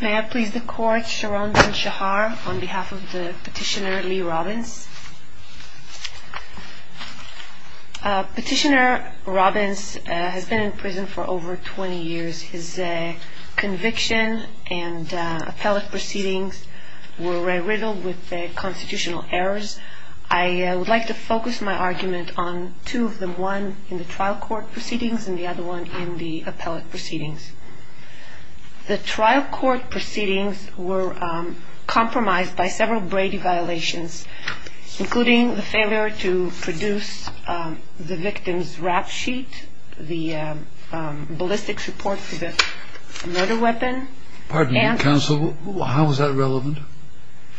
May I please the Court, Sharon Ben-Shahar, on behalf of Petitioner Lee Robbins. Petitioner Robbins has been in prison for over 20 years. His conviction and appellate proceedings were riddled with constitutional errors. I would like to focus my argument on two of them, one in the trial court proceedings and the other one in the appellate proceedings. The trial court proceedings were compromised by several Brady violations, including the failure to produce the victim's rap sheet, the ballistics report for the murder weapon. Pardon me, counsel, how is that relevant?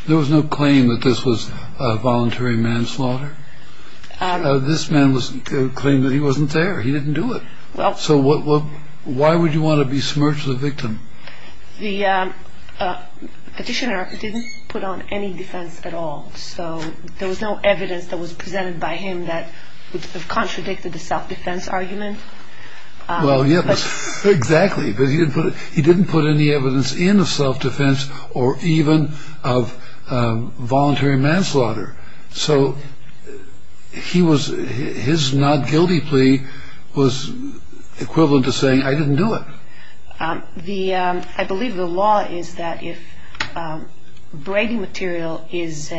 There was no claim that this was a voluntary manslaughter. This man claimed that he wasn't there. He didn't do it. So why would you want to be submerged as a victim? The petitioner didn't put on any defense at all. So there was no evidence that was presented by him that would have contradicted the self-defense argument. Well, yes, exactly. But he didn't put any evidence in of self-defense or even of voluntary manslaughter. So his not guilty plea was equivalent to saying, I didn't do it. I believe the law is that if Brady material is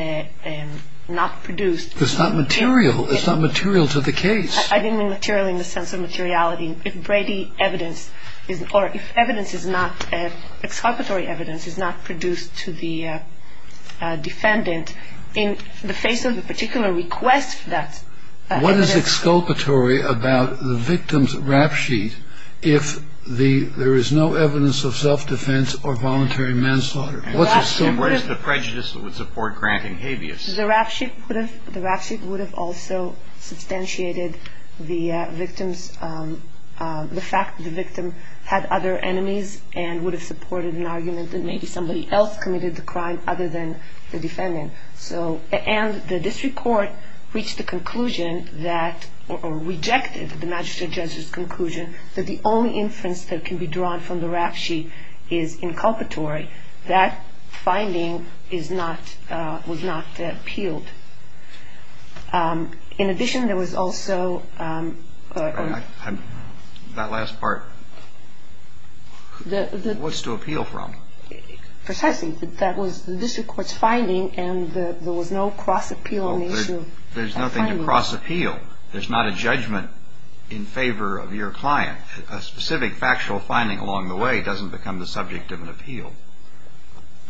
not produced... It's not material. It's not material to the case. I didn't mean material in the sense of materiality. If Brady evidence or if evidence is not, if exculpatory evidence is not produced to the defendant in the face of a particular request for that evidence... What is exculpatory about the victim's rap sheet if there is no evidence of self-defense or voluntary manslaughter? And what is the prejudice that would support granting habeas? The rap sheet would have also substantiated the fact that the victim had other enemies and would have supported an argument that maybe somebody else committed the crime other than the defendant. And the district court reached the conclusion that, or rejected the magistrate judge's conclusion, that the only inference that can be drawn from the rap sheet is inculpatory. That finding is not, was not appealed. In addition, there was also... That last part. What's to appeal from? Precisely. That was the district court's finding, and there was no cross-appeal on the issue. There's nothing to cross-appeal. There's not a judgment in favor of your client. A specific factual finding along the way doesn't become the subject of an appeal.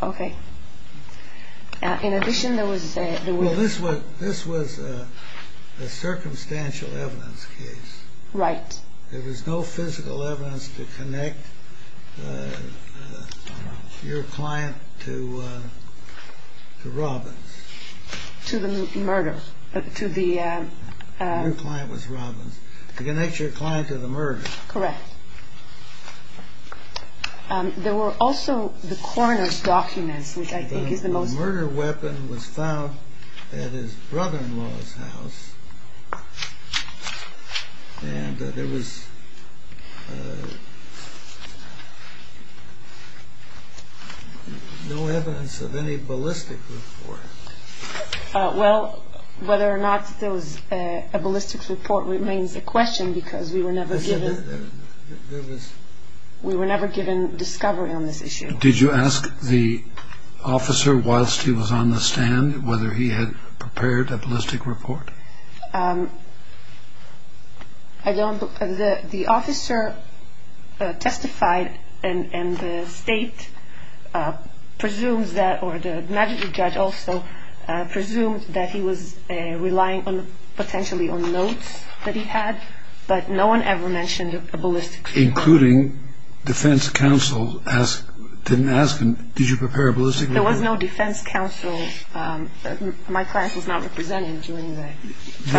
Okay. In addition, there was... Well, this was a circumstantial evidence case. Right. There was no physical evidence to connect your client to Robbins. To the murder. To the... Your client was Robbins. To connect your client to the murder. Correct. There were also the coroner's documents, which I think is the most... The murder weapon was found at his brother-in-law's house. And there was no evidence of any ballistic report. Well, whether or not there was a ballistic report remains a question because we were never given... We were never given discovery on this issue. Did you ask the officer whilst he was on the stand whether he had prepared a ballistic report? I don't... The officer testified and the state presumes that, or the magistrate judge also presumes that he was relying potentially on notes that he had, but no one ever mentioned a ballistic report. Including defense counsel didn't ask him, did you prepare a ballistic report? There was no defense counsel. My client was not represented during the...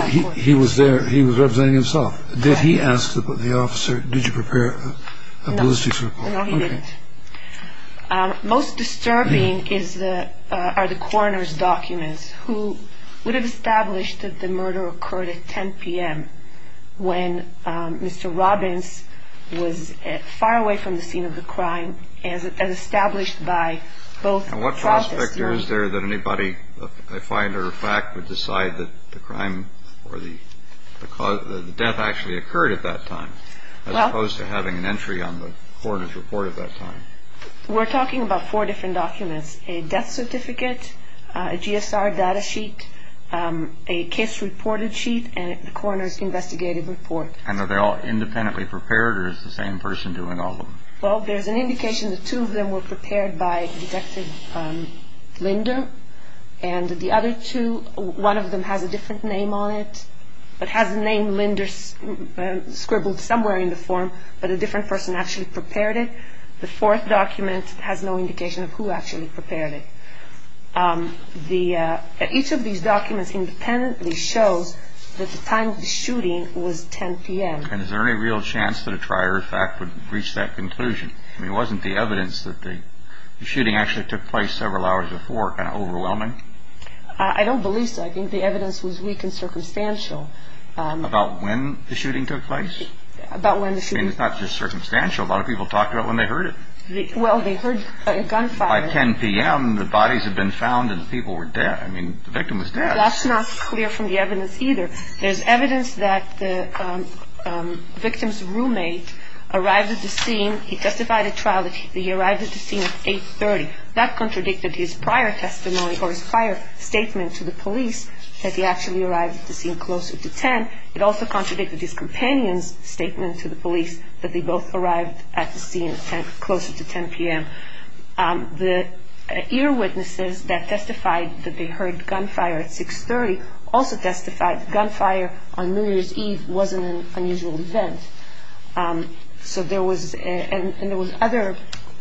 He was there. He was representing himself. Did he ask the officer, did you prepare a ballistic report? No, he didn't. Most disturbing are the coroner's documents who would have established that the murder occurred at 10 p.m. when Mr. Robbins was far away from the scene of the crime as established by both... And what prospect is there that anybody, a find or a fact, would decide that the crime or the death actually occurred at that time? As opposed to having an entry on the coroner's report at that time. We're talking about four different documents, a death certificate, a GSR data sheet, a case reported sheet and the coroner's investigative report. And are they all independently prepared or is the same person doing all of them? Well, there's an indication that two of them were prepared by Detective Linder and the other two, one of them has a different name on it, but has the name Linder scribbled somewhere in the form, but a different person actually prepared it. The fourth document has no indication of who actually prepared it. Each of these documents independently shows that the time of the shooting was 10 p.m. And is there any real chance that a try or a fact would reach that conclusion? I mean, wasn't the evidence that the shooting actually took place several hours before kind of overwhelming? I don't believe so. I think the evidence was weak and circumstantial. About when the shooting took place? About when the shooting took place. I mean, it's not just circumstantial. A lot of people talked about when they heard it. Well, they heard a gunfire. By 10 p.m., the bodies had been found and the people were dead. I mean, the victim was dead. That's not clear from the evidence either. There's evidence that the victim's roommate arrived at the scene, he testified at trial, that he arrived at the scene at 8.30. That contradicted his prior testimony or his prior statement to the police that he actually arrived at the scene closer to 10. It also contradicted his companion's statement to the police that they both arrived at the scene closer to 10 p.m. The earwitnesses that testified that they heard gunfire at 6.30 also testified gunfire on New Year's Eve wasn't an unusual event. So there was, and there was other,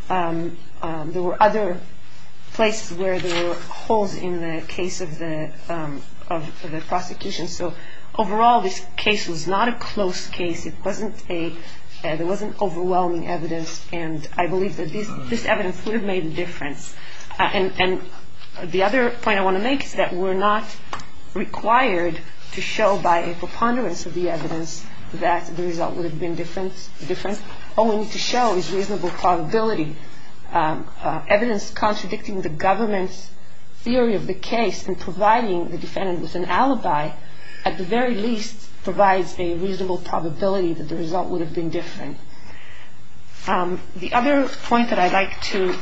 there were other places where there were holes in the case of the prosecution. So overall, this case was not a close case. It wasn't a, there wasn't overwhelming evidence, and I believe that this evidence would have made a difference. And the other point I want to make is that we're not required to show by a preponderance of the evidence that the result would have been different. All we need to show is reasonable probability. Evidence contradicting the government's theory of the case and providing the defendant with an alibi, at the very least, provides a reasonable probability that the result would have been different. The other point that I'd like to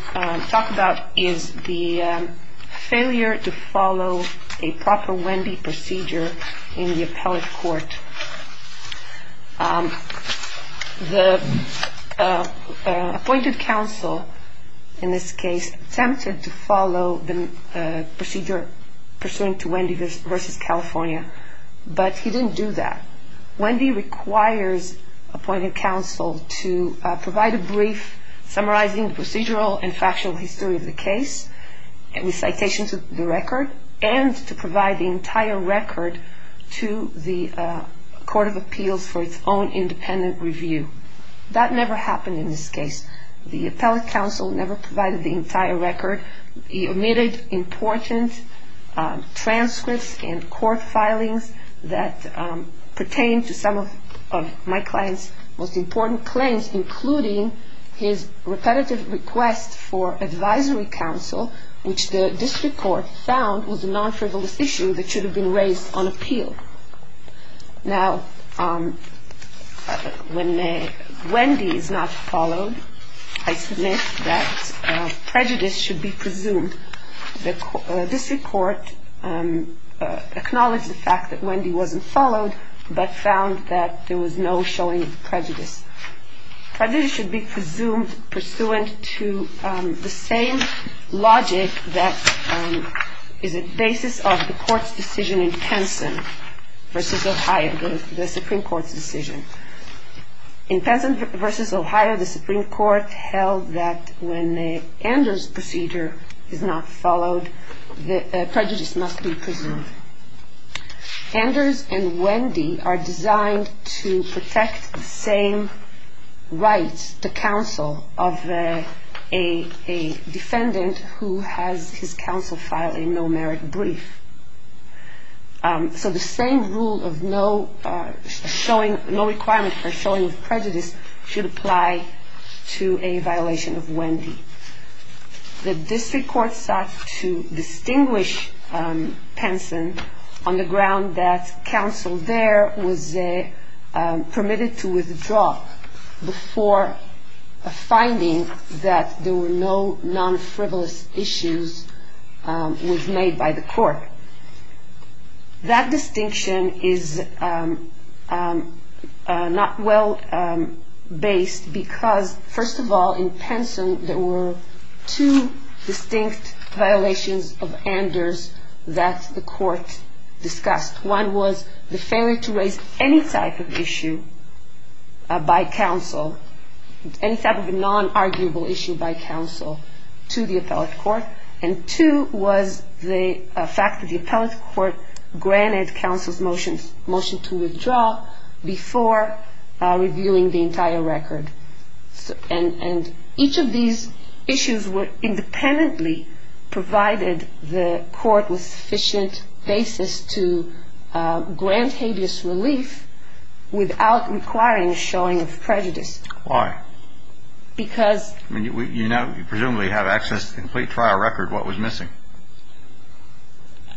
talk about is the failure to follow a proper Wendy procedure in the appellate court. The appointed counsel in this case attempted to follow the procedure pursuant to Wendy v. California, but he didn't do that. Wendy requires appointed counsel to provide a brief summarizing procedural and factual history of the case with citations of the record and to provide the entire record to the court of appeals for its own independent review. That never happened in this case. The appellate counsel never provided the entire record. He omitted important transcripts and court filings that pertain to some of my client's most important claims, including his repetitive request for advisory counsel, which the district court found was a non-frivolous issue that should have been raised on appeal. Now, when Wendy is not followed, I submit that prejudice should be presumed. The district court acknowledged the fact that Wendy wasn't followed, but found that there was no showing of prejudice. Prejudice should be presumed pursuant to the same logic that is a basis of the court's decision in Penson v. Ohio, the Supreme Court's decision. In Penson v. Ohio, the Supreme Court held that when the Anders procedure is not followed, the prejudice must be presumed. Anders and Wendy are designed to protect the same rights to counsel of a defendant who has his counsel file a no-merit brief. So the same rule of no requirement for showing of prejudice should apply to a violation of Wendy. The district court sought to distinguish Penson on the ground that counsel there was permitted to withdraw before a finding that there were no non-frivolous issues was made by the court. That distinction is not well based because, first of all, in Penson there were two distinct violations of Anders that the court discussed. One was the failure to raise any type of issue by counsel, any type of non-arguable issue by counsel to the appellate court, and two was the fact that the appellate court granted counsel's motion to withdraw before reviewing the entire record. And each of these issues independently provided the court with sufficient basis to grant habeas relief without requiring a showing of prejudice. Why? Because... I mean, you now presumably have access to the complete trial record. What was missing?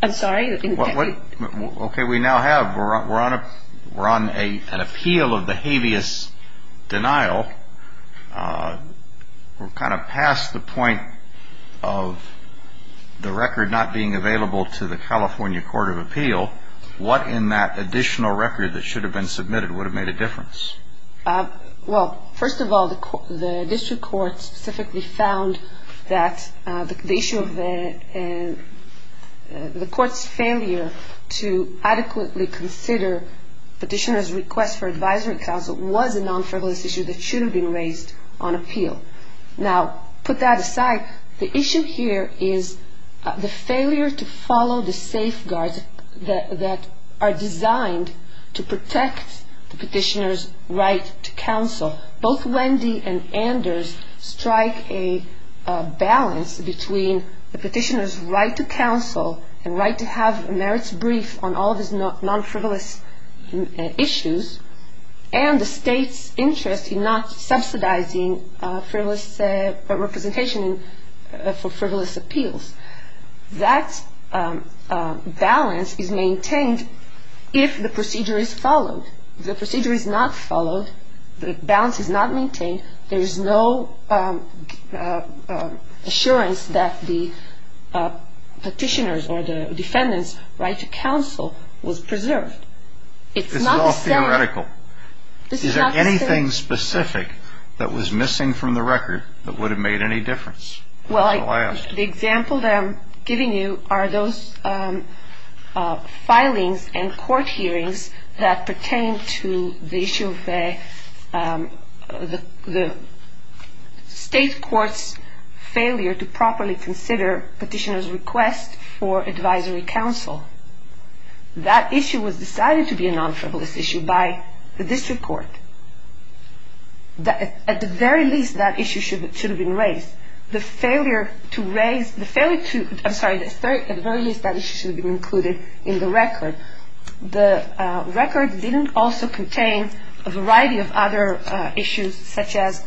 I'm sorry? Okay, we now have. We're on an appeal of the habeas denial. We're kind of past the point of the record not being available to the California Court of Appeal. What in that additional record that should have been submitted would have made a difference? Well, first of all, the district court specifically found that the issue of the court's failure to adequately consider petitioner's request for advisory counsel was a non-frivolous issue that should have been raised on appeal. Now, put that aside. The issue here is the failure to follow the safeguards that are designed to protect the petitioner's right to counsel. Both Wendy and Anders strike a balance between the petitioner's right to counsel and right to have a merits brief on all of these non-frivolous issues, and the state's interest in not subsidizing frivolous representation for frivolous appeals. That balance is maintained if the procedure is followed. If the procedure is not followed, the balance is not maintained, there is no assurance that the petitioner's or the defendant's right to counsel was preserved. This is all theoretical. Is there anything specific that was missing from the record that would have made any difference? Well, the example that I'm giving you are those filings and court hearings that pertain to the issue of the state court's failure to properly consider petitioner's request for advisory counsel. That issue was decided to be a non-frivolous issue by the district court. At the very least, that issue should have been raised. The failure to raise, the failure to, I'm sorry, at the very least, that issue should have been included in the record. The record didn't also contain a variety of other issues, such as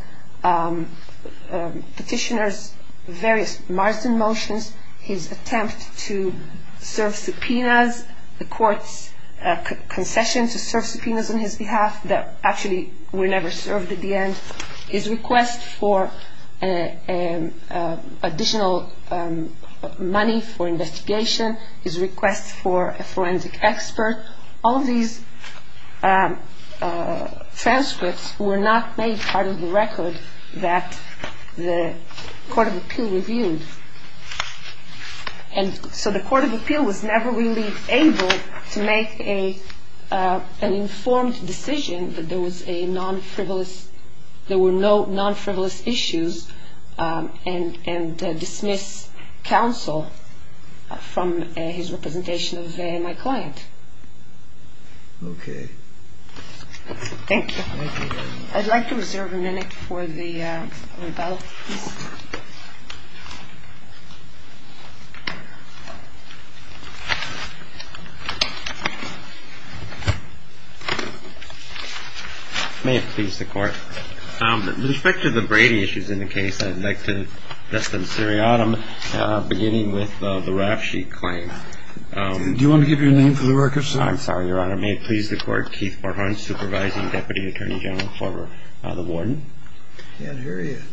petitioner's various partisan motions, his attempt to serve subpoenas, the court's concession to serve subpoenas on his behalf that actually were never served at the end, his request for additional money for investigation, his request for a forensic evidence, all of these transcripts were not made part of the record that the court of appeal reviewed. And so the court of appeal was never really able to make an informed decision that there was a non-frivolous, there were no non-frivolous issues and dismiss counsel from his representation of my client. Okay. Thank you. I'd like to reserve a minute for the rebuttal, please. May it please the Court. With respect to the Brady issues in the case, I'd like to address them seriatim, beginning with the Rafshe claim. Do you want to give your name for the record, sir? I'm sorry, Your Honor. May it please the Court. Keith Forthorn, Supervising Deputy Attorney General for the Warden. Yeah, here he is.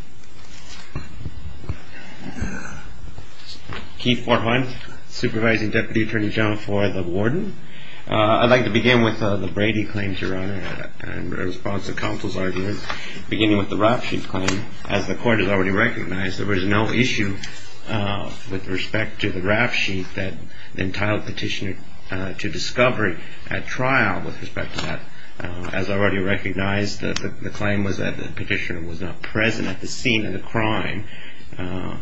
Keith Forthorn, Supervising Deputy Attorney General for the Warden. I'd like to begin with the Brady claims, Your Honor, in response to counsel's arguments, beginning with the Rafshe claim. As the Court has already recognized, there was no issue with respect to the Rafshe that entitled the petitioner to discovery at trial. With respect to that, as already recognized, the claim was that the petitioner was not present at the scene of the crime. How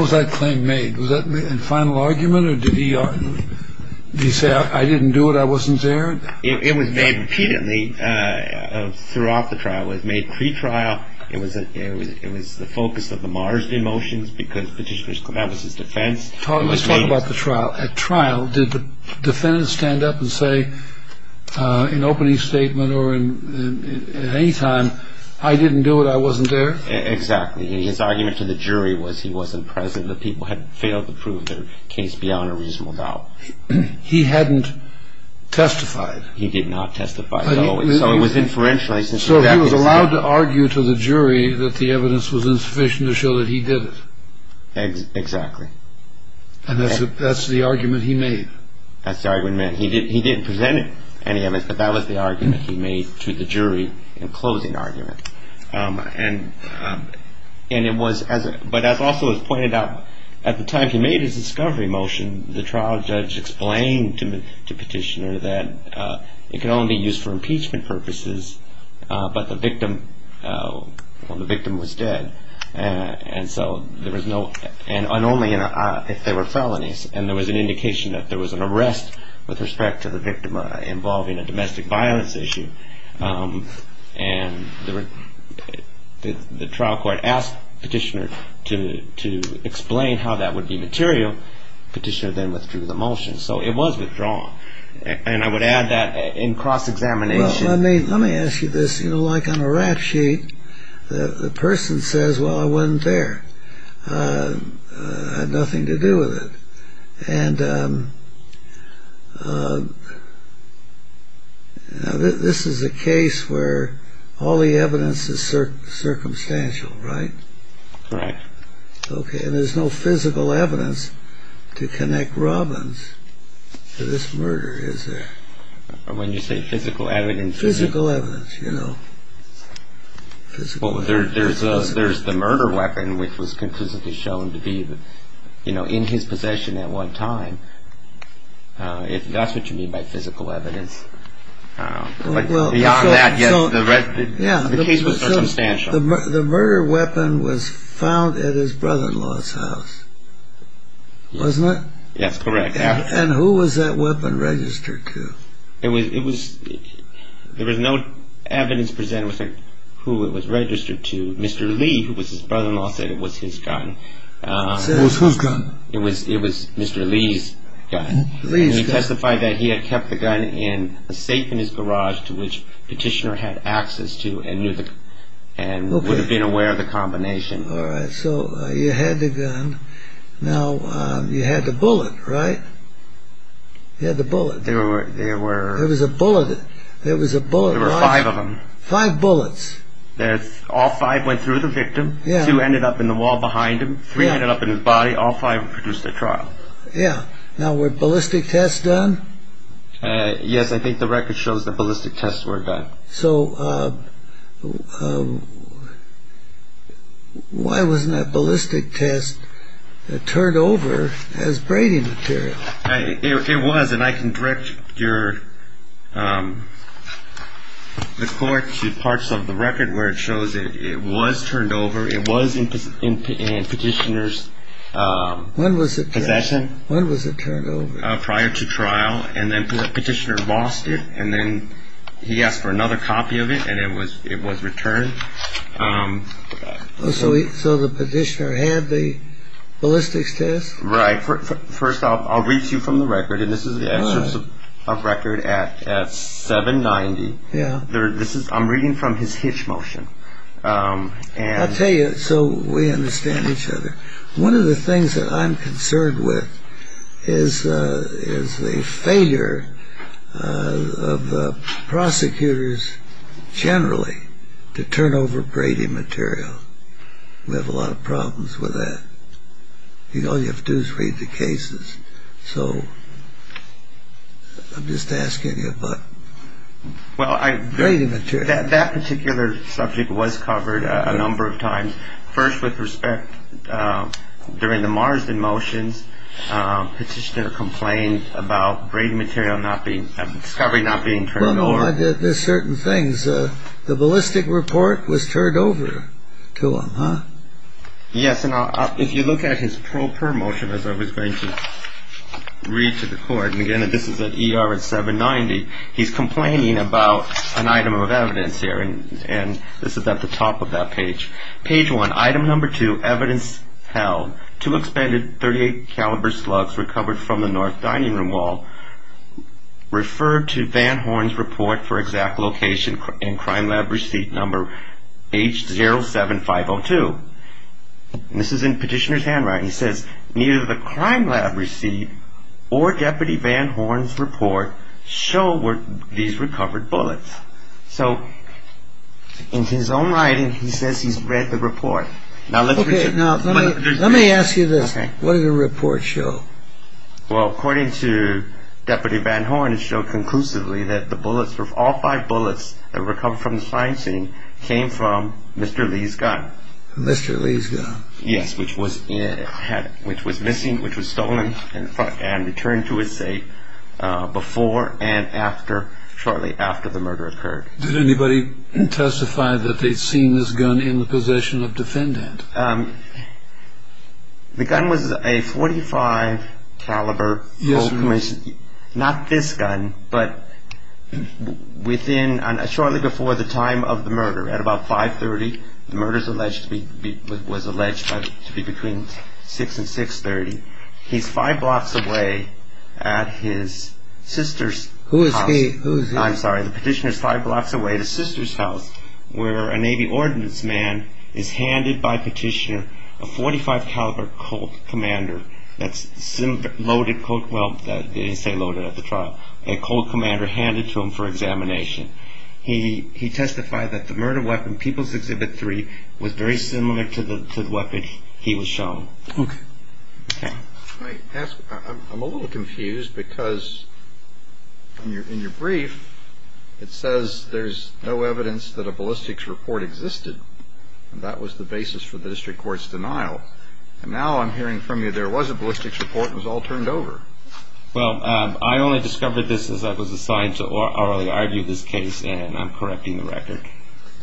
was that claim made? Was that in final argument, or did he say, I didn't do it, I wasn't there? It was made repeatedly throughout the trial. It was made pre-trial. It was the focus of the Marsden motions because Petitioner's Clement was his defense. Let's talk about the trial. At trial, did the defendant stand up and say in opening statement or at any time, I didn't do it, I wasn't there? Exactly. His argument to the jury was he wasn't present. The people had failed to prove their case beyond a reasonable doubt. He hadn't testified. He did not testify. So it was inferential. So he was allowed to argue to the jury that the evidence was insufficient to show that he did it. Exactly. And that's the argument he made. That's the argument he made. He didn't present any evidence, but that was the argument he made to the jury in closing argument. And it was, but as also was pointed out, at the time he made his discovery motion, the trial judge explained to Petitioner that it could only be used for impeachment purposes, but the victim was dead. And so there was no, and only if they were felonies. And there was an indication that there was an arrest with respect to the victim involving a domestic violence issue. And the trial court asked Petitioner to explain how that would be material. Petitioner then withdrew the motion. So it was withdrawn. And I would add that in cross-examination. Let me ask you this. You know, like on a rap sheet, the person says, well, I wasn't there. I had nothing to do with it. And this is a case where all the evidence is circumstantial, right? Right. Okay. And there's no physical evidence to connect Robbins to this murder, is there? When you say physical evidence? Physical evidence, you know. Well, there's the murder weapon, which was conclusively shown to be, you know, in his possession at one time. If that's what you mean by physical evidence. But beyond that, yes, the case was circumstantial. The murder weapon was found at his brother-in-law's house, wasn't it? Yes, correct. And who was that weapon registered to? There was no evidence presented as to who it was registered to. Mr. Lee, who was his brother-in-law, said it was his gun. Said it was whose gun? It was Mr. Lee's gun. And he testified that he had kept the gun in a safe in his garage to which Petitioner had access to and would have been aware of the combination. All right. So you had the gun. Now, you had the bullet, right? You had the bullet. There was a bullet. There were five of them. Five bullets. All five went through the victim. Two ended up in the wall behind him. Three ended up in his body. All five produced at trial. Yeah. Now, were ballistic tests done? Yes, I think the record shows that ballistic tests were done. So why wasn't that ballistic test turned over as braiding material? It was, and I can direct the court to parts of the record where it shows it was turned over. It was in Petitioner's possession. When was it turned over? Prior to trial, and then Petitioner lost it, and then he asked for another copy of it, and it was returned. So the Petitioner had the ballistics test? Right. First off, I'll read to you from the record, and this is the excerpt of record at 790. I'm reading from his hitch motion. I'll tell you so we understand each other. One of the things that I'm concerned with is the failure of the prosecutors generally to turn over braiding material. We have a lot of problems with that. All you have to do is read the cases. So I'm just asking you about braiding material. Well, that particular subject was covered a number of times. First, with respect, during the Marsden motions, Petitioner complained about braiding material, discovery not being turned over. Well, no, there's certain things. The ballistic report was turned over to him, huh? Yes, and if you look at his pro per motion, as I was going to read to the court, and again, this is at ER at 790, he's complaining about an item of evidence here, and this is at the top of that page. Page one, item number two, evidence held. Two expended .38 caliber slugs recovered from the north dining room wall. Referred to Van Horn's report for exact location in crime lab receipt number H07502. This is in Petitioner's handwriting. He says, neither the crime lab receipt or Deputy Van Horn's report show these recovered bullets. So in his own writing, he says he's read the report. Now, let me ask you this. What did the report show? Well, according to Deputy Van Horn, it showed conclusively that the bullets, all five bullets that were recovered from the crime scene came from Mr. Lee's gun. Mr. Lee's gun. Yes, which was missing, which was stolen and returned to his safe before and after, shortly after the murder occurred. Did anybody testify that they'd seen this gun in the possession of defendant? The gun was a .45 caliber, not this gun, but within, shortly before the time of the murder, at about 530. The murder was alleged to be between 6 and 630. He's five blocks away at his sister's house. Who is he? I'm sorry. The Petitioner's five blocks away at his sister's house where a Navy ordnance man is handed by Petitioner a .45 caliber Colt commander. That's loaded, well, they say loaded at the trial. A Colt commander handed to him for examination. He testified that the murder weapon, People's Exhibit 3, was very similar to the weapon he was shown. Okay. I'm a little confused because in your brief it says there's no evidence that a ballistics report existed, and that was the basis for the district court's denial. And now I'm hearing from you there was a ballistics report and it was all turned over. Well, I only discovered this as I was assigned to orally argue this case, and I'm correcting the record.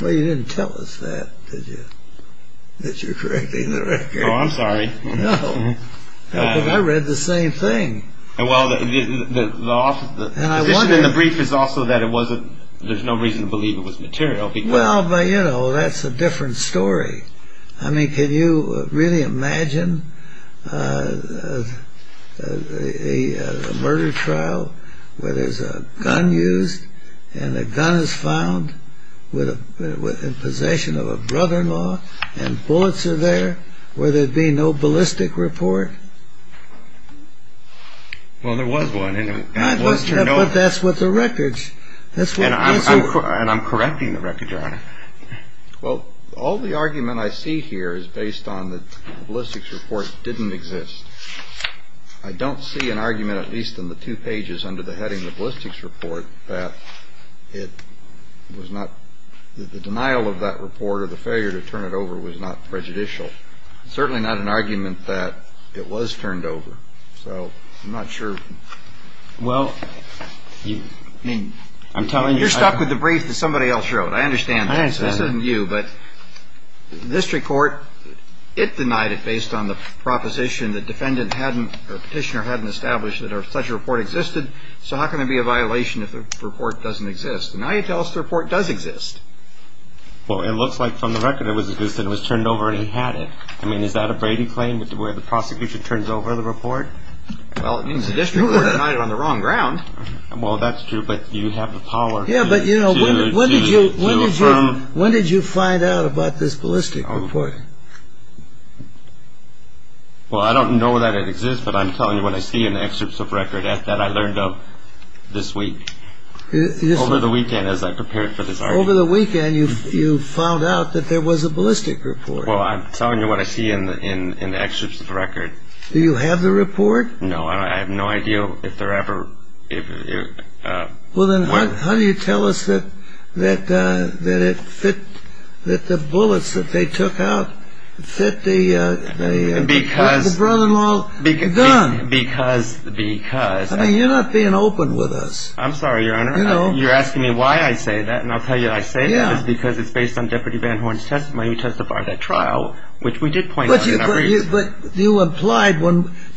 Well, you didn't tell us that, did you, that you're correcting the record. Oh, I'm sorry. No, but I read the same thing. Well, the brief is also that there's no reason to believe it was material. Well, but, you know, that's a different story. I mean, can you really imagine a murder trial where there's a gun used and the gun is found in possession of a brother-in-law and bullets are there where there'd be no ballistics report? Well, there was one. But that's with the records. And I'm correcting the record, Your Honor. Well, all the argument I see here is based on the ballistics report didn't exist. I don't see an argument, at least in the two pages under the heading, the ballistics report, that it was not the denial of that report or the failure to turn it over was not prejudicial. Certainly not an argument that it was turned over. So I'm not sure. Well, I mean, I'm telling you. Let's stop with the brief that somebody else wrote. I understand that. This isn't you. But the district court, it denied it based on the proposition that the petitioner hadn't established that such a report existed. So how can it be a violation if the report doesn't exist? Now you tell us the report does exist. Well, it looks like from the record it was turned over and he had it. I mean, is that a Brady claim where the prosecution turns over the report? Well, it means the district court denied it on the wrong ground. Well, that's true. But you have the power to affirm. Yeah, but when did you find out about this ballistic report? Well, I don't know that it exists, but I'm telling you what I see in the excerpts of record. That I learned of this week. Over the weekend as I prepared for this argument. Over the weekend you found out that there was a ballistic report. Well, I'm telling you what I see in the excerpts of record. Do you have the report? No, I have no idea if there ever... Well, then how do you tell us that the bullets that they took out fit the brother-in-law's gun? Because... I mean, you're not being open with us. I'm sorry, Your Honor. You're asking me why I say that, and I'll tell you why I say that. It's because it's based on Deputy Van Horn's testimony. He testified at trial, which we did point out. But you implied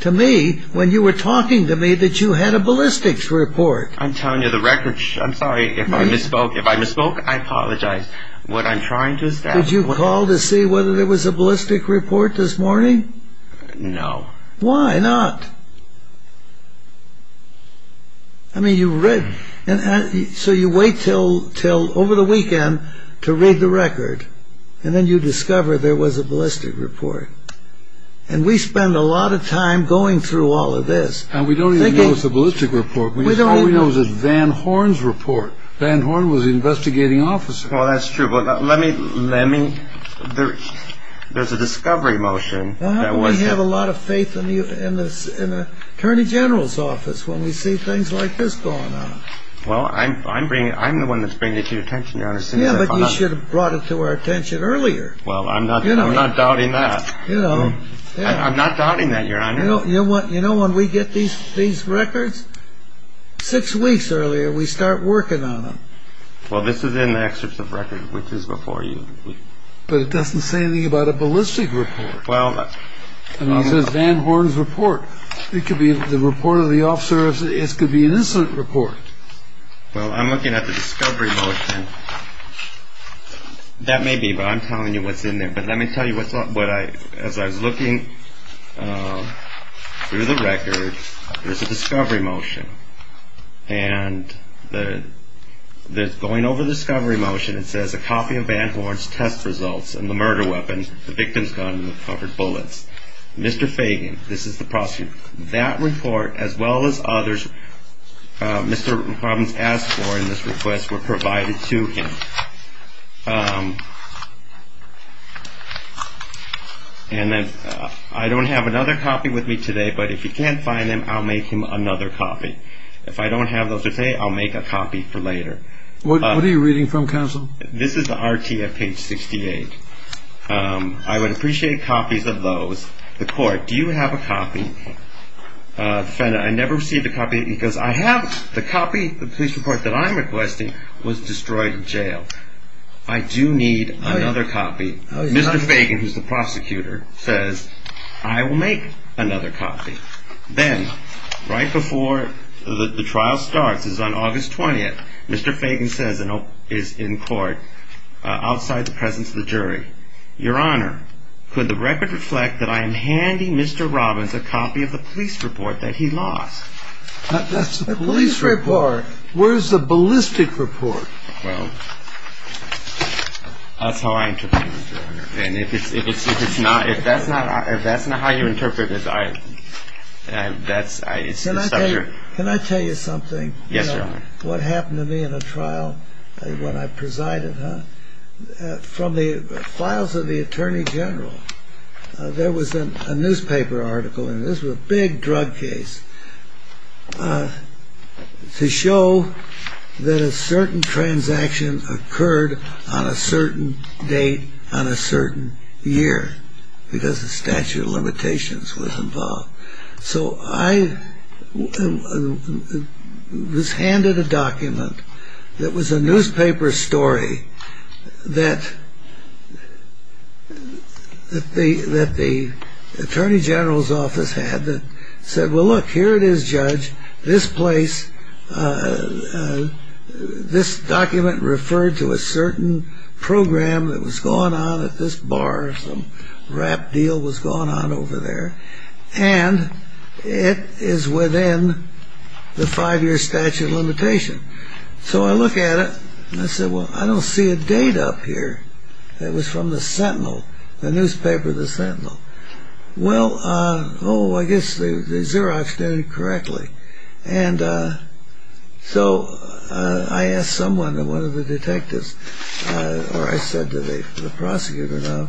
to me, when you were talking to me, that you had a ballistics report. I'm telling you the record... I'm sorry if I misspoke. If I misspoke, I apologize. What I'm trying to establish... Did you call to see whether there was a ballistic report this morning? No. Why not? I mean, you read... So you wait till over the weekend to read the record. And then you discover there was a ballistic report. And we spend a lot of time going through all of this. And we don't even know it's a ballistic report. All we know is it's Van Horn's report. Van Horn was the investigating officer. Well, that's true. But let me... There's a discovery motion that was... We have a lot of faith in the Attorney General's office when we see things like this going on. Well, I'm the one that's bringing it to your attention, Your Honor. Yeah, but you should have brought it to our attention earlier. Well, I'm not doubting that. I'm not doubting that, Your Honor. You know when we get these records? Six weeks earlier, we start working on them. Well, this is in the excerpts of record, which is before you. But it doesn't say anything about a ballistic report. It says Van Horn's report. It could be the report of the officer. It could be an incident report. Well, I'm looking at the discovery motion. That may be, but I'm telling you what's in there. But let me tell you what I... As I was looking through the record, there's a discovery motion. And going over the discovery motion, it says, A copy of Van Horn's test results and the murder weapon, the victim's gun with covered bullets. Mr. Fagan, this is the prosecutor. That report, as well as others Mr. Robbins asked for in this request, were provided to him. And then I don't have another copy with me today, but if you can't find them, I'll make him another copy. If I don't have those today, I'll make a copy for later. What are you reading from, counsel? This is the RTF page 68. I would appreciate copies of those. The court, do you have a copy? Defendant, I never received a copy because I have the copy. The police report that I'm requesting was destroyed in jail. I do need another copy. Mr. Fagan, who's the prosecutor, says, I will make another copy. Then, right before the trial starts, it's on August 20th, Your Honor, could the record reflect that I am handing Mr. Robbins a copy of the police report that he lost? That's the police report. Where's the ballistic report? Well, that's how I interpret it, Your Honor. And if it's not, if that's not how you interpret this, I, that's, it's the subject. Can I tell you something? Yes, Your Honor. What happened to me in a trial when I presided, huh? From the files of the attorney general, there was a newspaper article, and this was a big drug case, to show that a certain transaction occurred on a certain date on a certain year because the statute of limitations was involved. So I was handed a document that was a newspaper story that the attorney general's office had that said, well, look, here it is, Judge, this place, this document referred to a certain program that was going on at this bar. Some rap deal was going on over there. And it is within the five-year statute of limitation. So I look at it, and I said, well, I don't see a date up here. It was from the Sentinel, the newspaper, the Sentinel. Well, oh, I guess the Xerox did it correctly. And so I asked someone, one of the detectives, or I said to the prosecutor,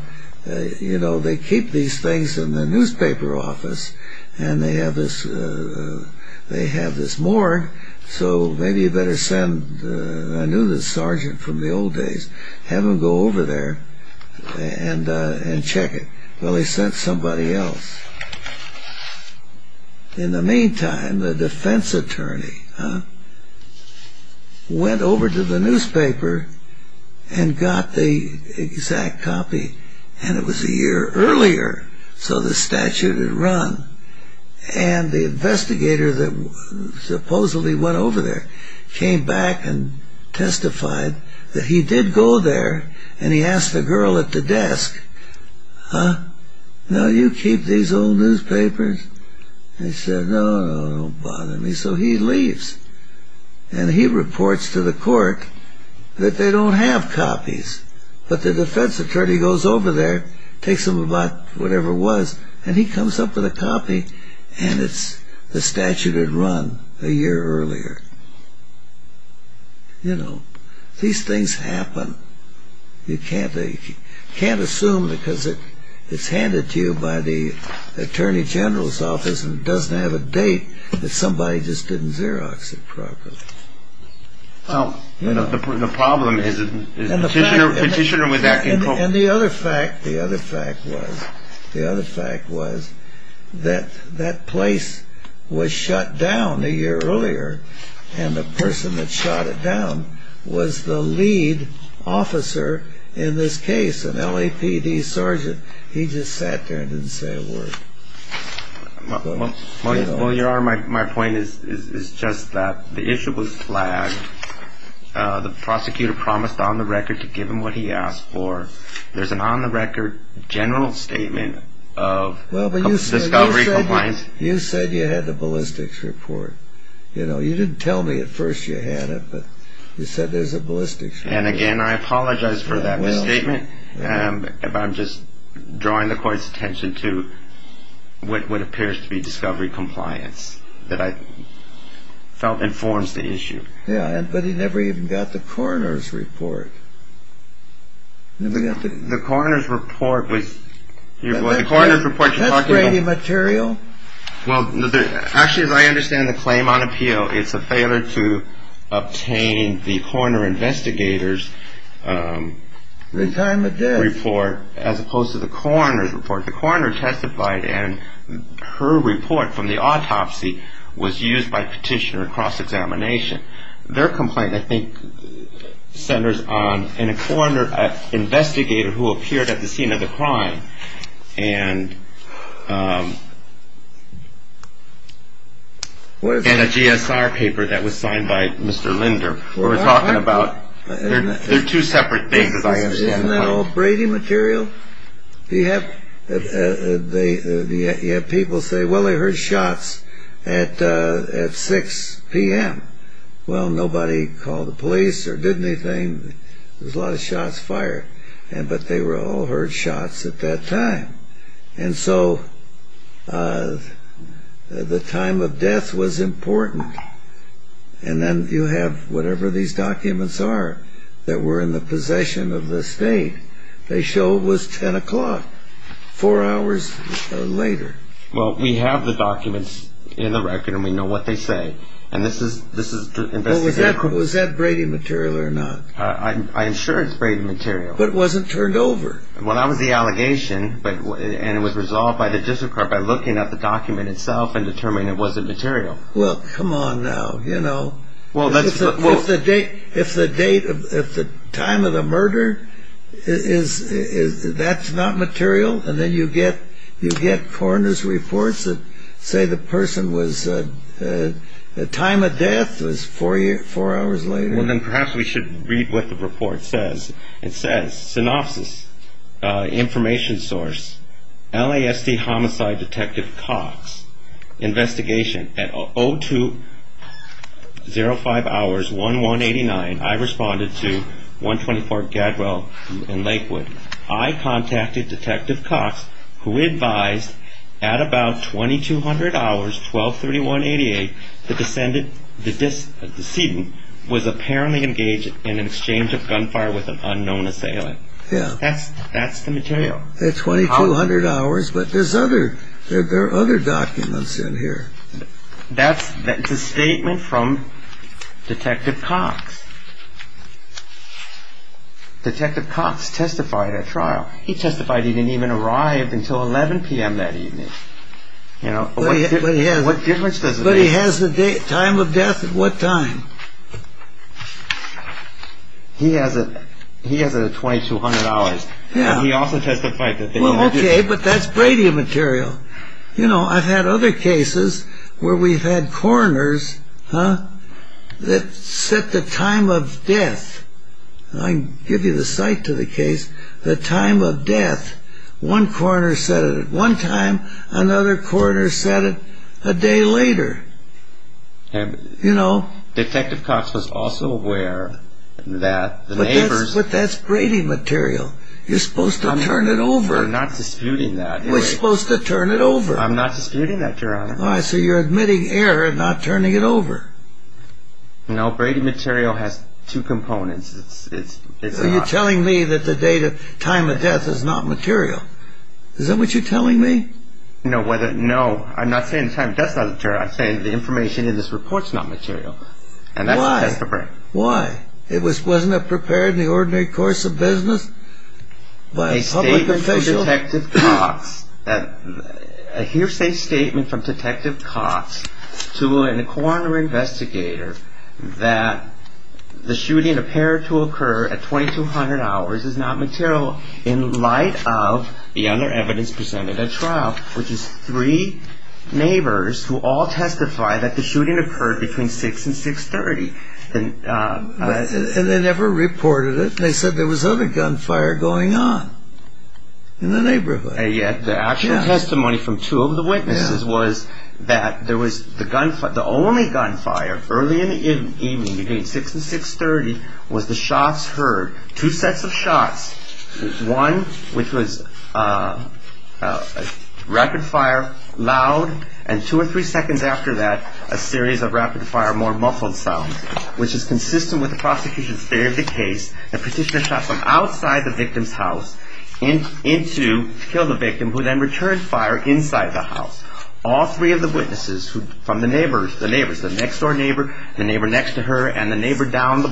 you know, they keep these things in the newspaper office, and they have this morgue, so maybe you better send, I knew this sergeant from the old days, have him go over there and check it. Well, he sent somebody else. In the meantime, the defense attorney went over to the newspaper and got the exact copy, and it was a year earlier, so the statute had run. And the investigator that supposedly went over there came back and testified that he did go there, and he asked the girl at the desk, huh, now you keep these old newspapers? And she said, no, no, don't bother me. So he leaves, and he reports to the court that they don't have copies. But the defense attorney goes over there, takes them back, whatever it was, and he comes up with a copy, and it's the statute had run a year earlier. You know, these things happen. You can't assume because it's handed to you by the attorney general's office and it doesn't have a date that somebody just didn't Xerox it properly. The problem is a petitioner with that can cope. And the other fact was that that place was shut down a year earlier, and the person that shot it down was the lead officer in this case, an LAPD sergeant. He just sat there and didn't say a word. Well, Your Honor, my point is just that the issue was flagged. The prosecutor promised on the record to give him what he asked for. There's an on-the-record general statement of discovery compliance. You said you had the ballistics report. You didn't tell me at first you had it, but you said there's a ballistics report. And again, I apologize for that misstatement, but I'm just drawing the court's attention to what appears to be discovery compliance that I felt informs the issue. Yeah, but he never even got the coroner's report. The coroner's report was what you're talking about. That's Brady material? Well, actually, as I understand the claim on appeal, it's a failure to obtain the coroner investigator's report as opposed to the coroner's report. The coroner testified, and her report from the autopsy was used by petitioner in cross-examination. Their complaint, I think, centers on a coroner investigator who appeared at the scene of the crime and a GSR paper that was signed by Mr. Linder. We're talking about two separate things, as I understand the claim. Isn't that all Brady material? You have people say, well, I heard shots at 6 p.m. Well, nobody called the police or did anything. There was a lot of shots fired, but they all heard shots at that time. And so the time of death was important. And then you have whatever these documents are that were in the possession of the state. They show it was 10 o'clock, four hours later. Well, we have the documents in the record, and we know what they say. And this is the investigator. Well, was that Brady material or not? I am sure it's Brady material. But it wasn't turned over. Well, that was the allegation, and it was resolved by the district court by looking at the document itself and determining it wasn't material. Well, come on now. If the time of the murder, that's not material, and then you get coroner's reports that say the time of death was four hours later. Well, then perhaps we should read what the report says. It says, synopsis, information source, LASD homicide detective Cox, investigation at 0205 hours 1189. I responded to 124 Gadwell and Lakewood. I contacted Detective Cox, who advised at about 2200 hours 1231-88, the decedent was apparently engaged in an exchange of gunfire with an unknown assailant. That's the material. At 2200 hours, but there are other documents in here. That's a statement from Detective Cox. Detective Cox testified at trial. He testified he didn't even arrive until 11 p.m. that evening. What difference does it make? But he has the time of death at what time? He has it at 2200 hours. Well, okay, but that's Brady material. You know, I've had other cases where we've had coroners that set the time of death. I can give you the site to the case. The time of death, one coroner set it at one time. Another coroner set it a day later. You know? Detective Cox was also aware that the neighbors... But that's Brady material. You're supposed to turn it over. I'm not disputing that. You're supposed to turn it over. I'm not disputing that, Your Honor. All right, so you're admitting error and not turning it over. No, Brady material has two components. So you're telling me that the date of time of death is not material. Is that what you're telling me? No, I'm not saying the time of death is not material. I'm saying the information in this report is not material. Why? Why? Wasn't it prepared in the ordinary course of business by a public official? A hearsay statement from Detective Cox to a coroner investigator that the shooting appeared to occur at 2200 hours is not material in light of the other evidence presented at trial, which is three neighbors who all testify that the shooting occurred between 6 and 630. And they never reported it. They said there was other gunfire going on in the neighborhood. And yet the actual testimony from two of the witnesses was that the only gunfire early in the evening between 6 and 630 was the shots heard. Two sets of shots, one which was rapid fire, loud, and two or three seconds after that, a series of rapid fire, more muffled sounds, which is consistent with the prosecution's theory of the case, that Petitioner shot from outside the victim's house to kill the victim, who then returned fire inside the house. All three of the witnesses from the neighbors, the neighbors, the next-door neighbor, the neighbor next to her, and the neighbor down,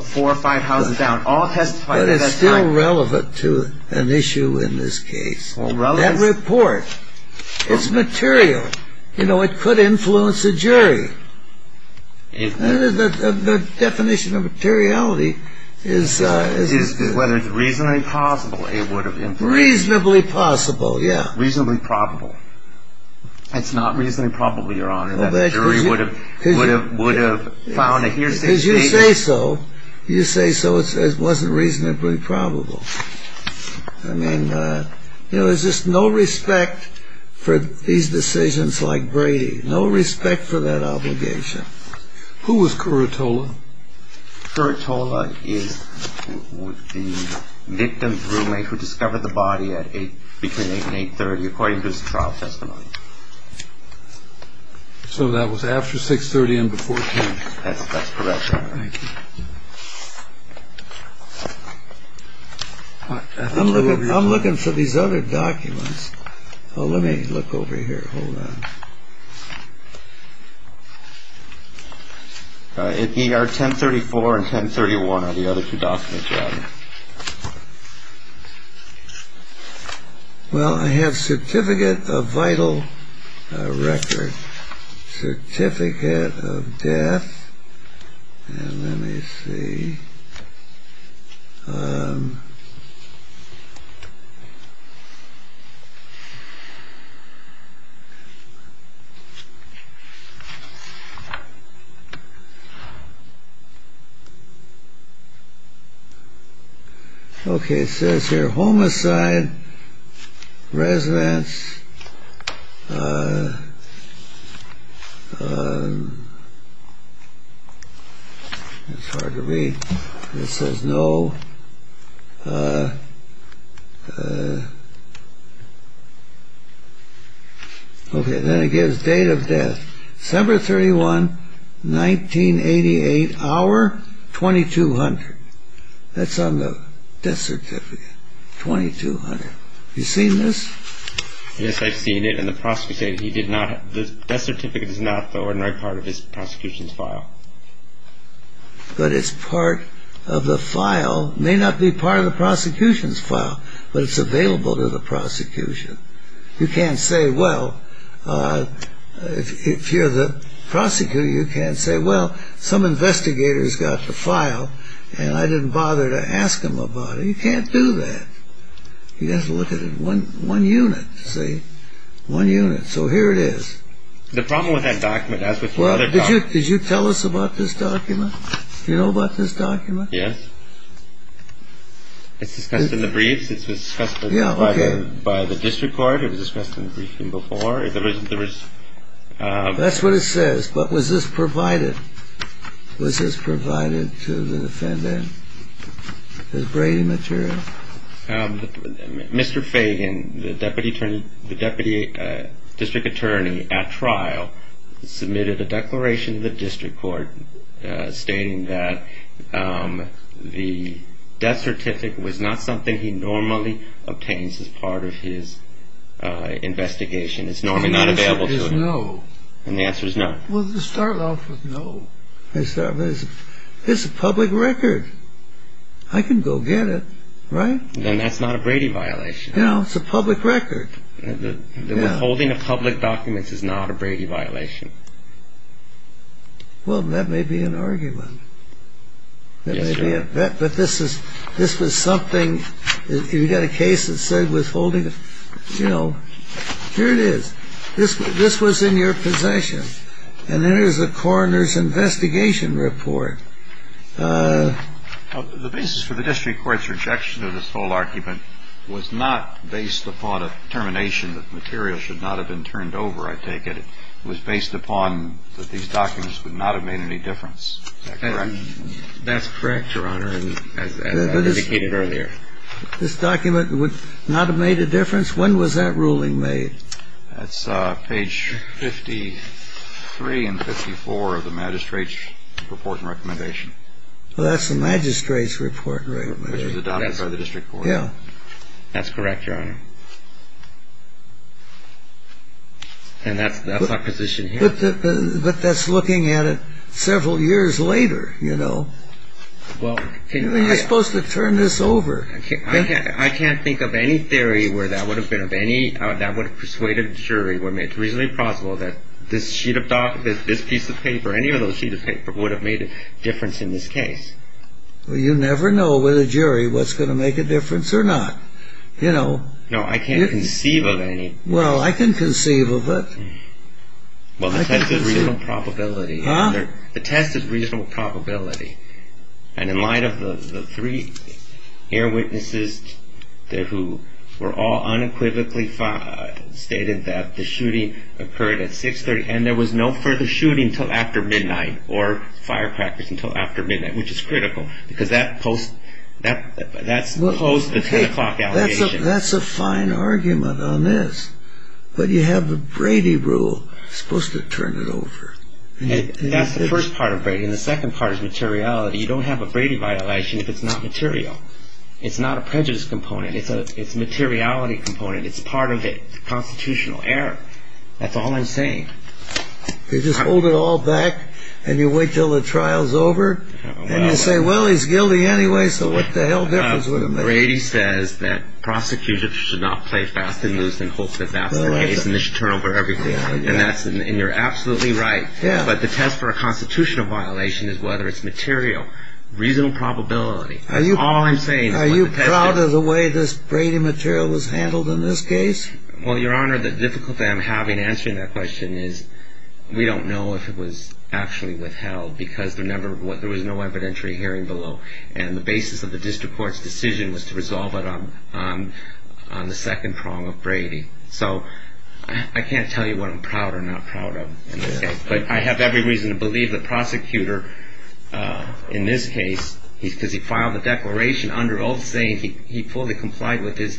four or five houses down, all testified at that time. But it's still relevant to an issue in this case. That report, it's material. You know, it could influence a jury. The definition of materiality is... Is whether it's reasonably possible it would have influenced... Reasonably possible, yeah. Reasonably probable. It's not reasonably probable, Your Honor, that a jury would have found a hearsay statement... Because you say so. You say so, it wasn't reasonably probable. I mean, you know, there's just no respect for these decisions like Brady. No respect for that obligation. Who was Curatola? Curatola is the victim's roommate who discovered the body between 8 and 8.30, according to his trial testimony. So that was after 6.30 and before 10? That's correct, Your Honor. Thank you. I'm looking for these other documents. Let me look over here. Hold on. In ER 1034 and 1031 are the other two documents, Your Honor. Well, I have certificate of vital record. Certificate of death. And let me see. Okay. Okay, it says here, homicide, residence. It's hard to read. It says no... Okay, then it gives date of death. December 31, 1988, hour 2200. That's on the death certificate, 2200. You seen this? Yes, I've seen it. And the prosecutor said he did not... The death certificate is not the ordinary part of his prosecution's file. But it's part of the file. It may not be part of the prosecution's file, but it's available to the prosecution. You can't say, well, if you're the prosecutor, you can't say, well, some investigator's got the file and I didn't bother to ask him about it. You can't do that. You have to look at it in one unit, see? One unit. So here it is. The problem with that document, as with the other documents... Well, did you tell us about this document? Do you know about this document? Yes. It's discussed in the briefs. It's discussed by the district court. It was discussed in the briefing before. There was... That's what it says. But was this provided? Was this provided to the defendant? The Brady material? Mr. Fagan, the deputy district attorney at trial, submitted a declaration to the district court stating that the death certificate was not something he normally obtains as part of his investigation. It's normally not available to him. And the answer is no. And the answer is no. Well, they start off with no. They start with, it's a public record. I can go get it, right? Then that's not a Brady violation. No, it's a public record. The withholding of public documents is not a Brady violation. Well, that may be an argument. Yes, sir. But this was something... You've got a case that said withholding... You know, here it is. This was in your possession. And there's the coroner's investigation report. The basis for the district court's rejection of this whole argument was not based upon a determination that material should not have been turned over, I take it. It was based upon that these documents would not have made any difference. Is that correct? That's correct, Your Honor, as I indicated earlier. This document would not have made a difference? When was that ruling made? That's page 53 and 54 of the magistrate's report and recommendation. Well, that's the magistrate's report and recommendation. Which was adopted by the district court. Yeah. That's correct, Your Honor. And that's my position here. But that's looking at it several years later, you know. You're supposed to turn this over. I can't think of any theory where that would have persuaded a jury when it's reasonably plausible that this piece of paper, any of those sheets of paper, would have made a difference in this case. Well, you never know with a jury what's going to make a difference or not. No, I can't conceive of any. Well, I can conceive of it. Well, the test is reasonable probability. Huh? The test is reasonable probability. And in light of the three eyewitnesses who were all unequivocally stated that the shooting occurred at 6.30 and there was no further shooting until after midnight or firecrackers until after midnight, which is critical because that's post the 10 o'clock allegation. That's a fine argument on this. But you have the Brady rule. You're supposed to turn it over. That's the first part of Brady. And the second part is materiality. You don't have a Brady violation if it's not material. It's not a prejudice component. It's a materiality component. It's part of it. It's a constitutional error. That's all I'm saying. You just hold it all back and you wait until the trial's over? And you say, well, he's guilty anyway, so what the hell difference would it make? Brady says that prosecutors should not play fast and loose and hope that that's the case and they should turn over everything. And you're absolutely right. But the test for a constitutional violation is whether it's material, reasonable probability. That's all I'm saying. Are you proud of the way this Brady material was handled in this case? Well, Your Honor, the difficulty I'm having answering that question is we don't know if it was actually withheld because there was no evidentiary hearing below. And the basis of the district court's decision was to resolve it on the second prong of Brady. So I can't tell you what I'm proud or not proud of. But I have every reason to believe the prosecutor in this case, because he filed a declaration under oath saying he fully complied with his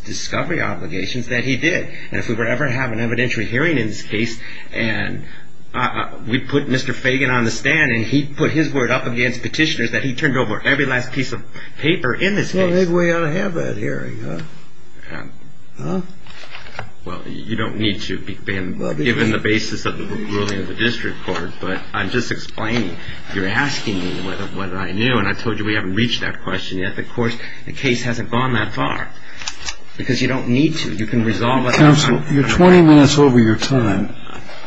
discovery obligations, that he did. And if we were ever to have an evidentiary hearing in this case, we'd put Mr. Fagan on the stand and he'd put his word up against petitioners that he turned over every last piece of paper in this case. Well, then we ought to have that hearing. Well, you don't need to, given the basis of the ruling of the district court. But I'm just explaining. You're asking me what I knew. And I told you we haven't reached that question yet. Of course, the case hasn't gone that far. Because you don't need to. You can resolve it. Counsel, you're 20 minutes over your time.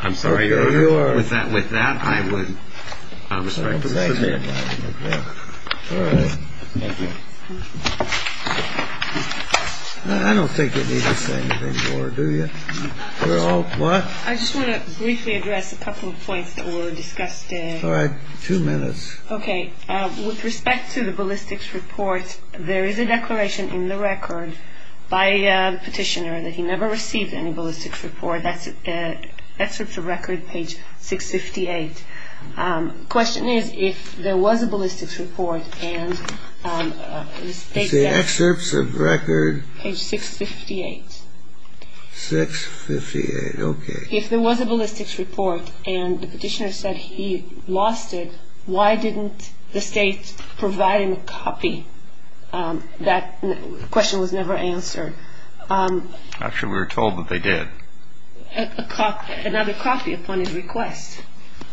I'm sorry, Your Honor. With that, I would respect to submit. All right. Thank you. I don't think you need to say anything more, do you? We're all, what? I just want to briefly address a couple of points that were discussed. All right. Two minutes. Okay. With respect to the ballistics report, there is a declaration in the record by the petitioner that he never received any ballistics report. That's a record page 658. The question is, if there was a ballistics report and the state said he lost it, why didn't the state provide him a copy? That question was never answered. Actually, we were told that they did. Another copy upon his request.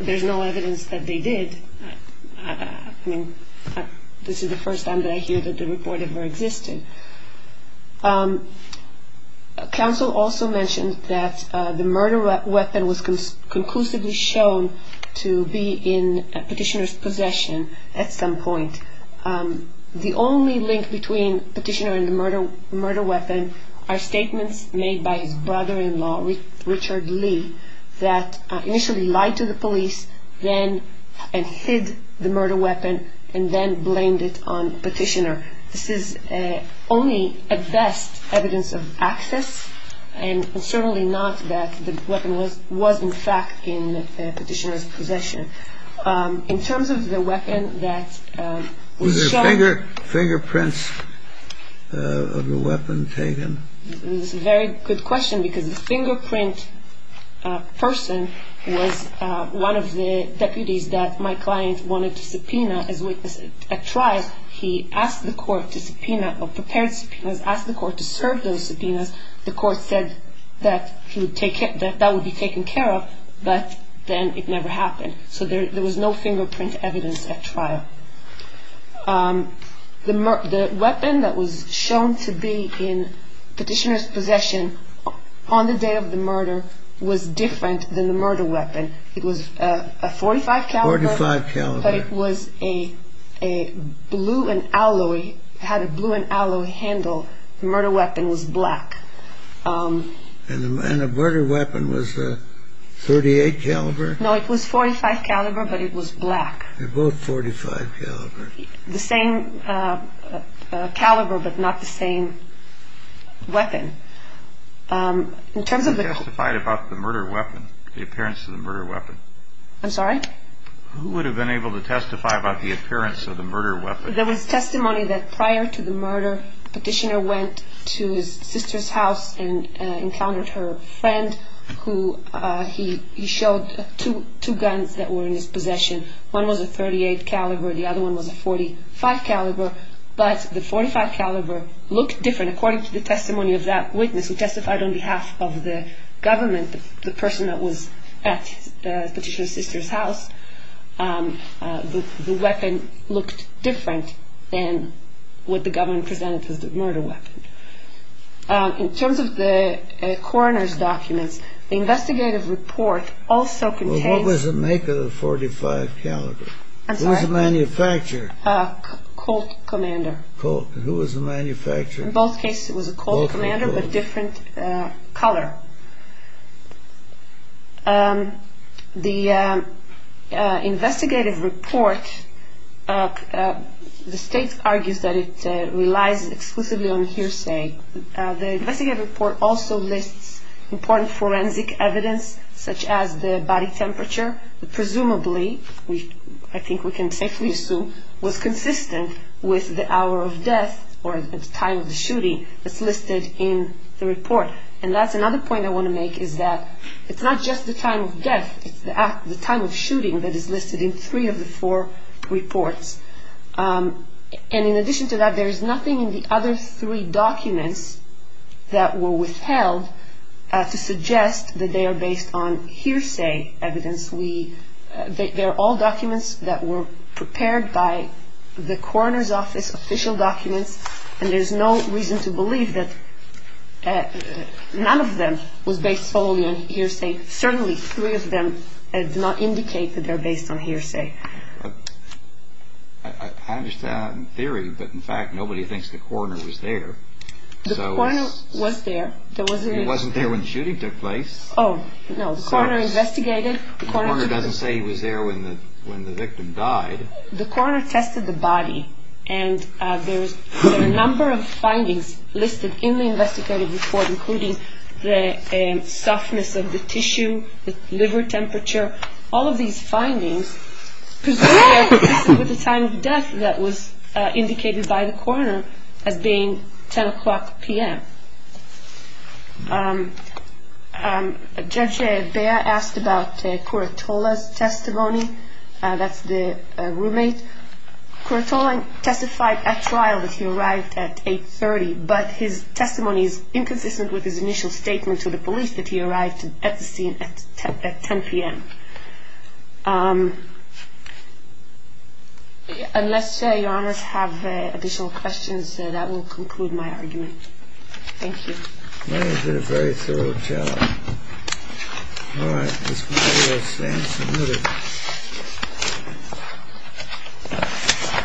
There's no evidence that they did. I mean, this is the first time that I hear that the report ever existed. Counsel also mentioned that the murder weapon was conclusively shown to be in petitioner's possession at some point. The only link between petitioner and the murder weapon are statements made by his brother-in-law, Richard Lee, that initially lied to the police and hid the murder weapon and then blamed it on petitioner. This is only at best evidence of access and certainly not that the weapon was in fact in petitioner's possession. In terms of the weapon that was shown. Was there fingerprints of the weapon taken? This is a very good question because the fingerprint person was one of the deputies that my client wanted to subpoena as a witness at trial. He asked the court to subpoena or prepared subpoenas, asked the court to serve those subpoenas. The court said that that would be taken care of. But then it never happened. So there was no fingerprint evidence at trial. The weapon that was shown to be in petitioner's possession on the day of the murder was different than the murder weapon. It was a .45 caliber, but it had a blue and alloy handle. The murder weapon was black. And the murder weapon was a .38 caliber? No, it was .45 caliber, but it was black. They're both .45 caliber. The same caliber, but not the same weapon. Who testified about the murder weapon, the appearance of the murder weapon? I'm sorry? Who would have been able to testify about the appearance of the murder weapon? There was testimony that prior to the murder, petitioner went to his sister's house and encountered her friend. He showed two guns that were in his possession. One was a .38 caliber. The other one was a .45 caliber. But the .45 caliber looked different. According to the testimony of that witness who testified on behalf of the government, the person that was at petitioner's sister's house, the weapon looked different than what the government presented as the murder weapon. In terms of the coroner's documents, the investigative report also contains- Who was the manufacturer? A Colt commander. And who was the manufacturer? In both cases, it was a Colt commander, but different color. The investigative report, the state argues that it relies exclusively on hearsay. The investigative report also lists important forensic evidence, such as the body temperature, which presumably, I think we can safely assume, was consistent with the hour of death or the time of the shooting that's listed in the report. And that's another point I want to make is that it's not just the time of death. It's the time of shooting that is listed in three of the four reports. And in addition to that, there is nothing in the other three documents that were withheld to suggest that they are based on hearsay evidence. They're all documents that were prepared by the coroner's office, official documents, and there's no reason to believe that none of them was based solely on hearsay. Certainly, three of them do not indicate that they're based on hearsay. I understand in theory, but in fact, nobody thinks the coroner was there. The coroner was there. He wasn't there when the shooting took place. Oh, no, the coroner investigated. The coroner doesn't say he was there when the victim died. The coroner tested the body, and there's a number of findings listed in the investigative report, including the softness of the tissue, the liver temperature, all of these findings, with the time of death that was indicated by the coroner as being 10 o'clock p.m. Judge Bea asked about Curatola's testimony. That's the roommate. Curatola testified at trial that he arrived at 8.30, but his testimony is inconsistent with his initial statement to the police that he arrived at the scene at 10 p.m. Unless your honors have additional questions, that will conclude my argument. Thank you. You did a very thorough job. All right. This concludes the answer.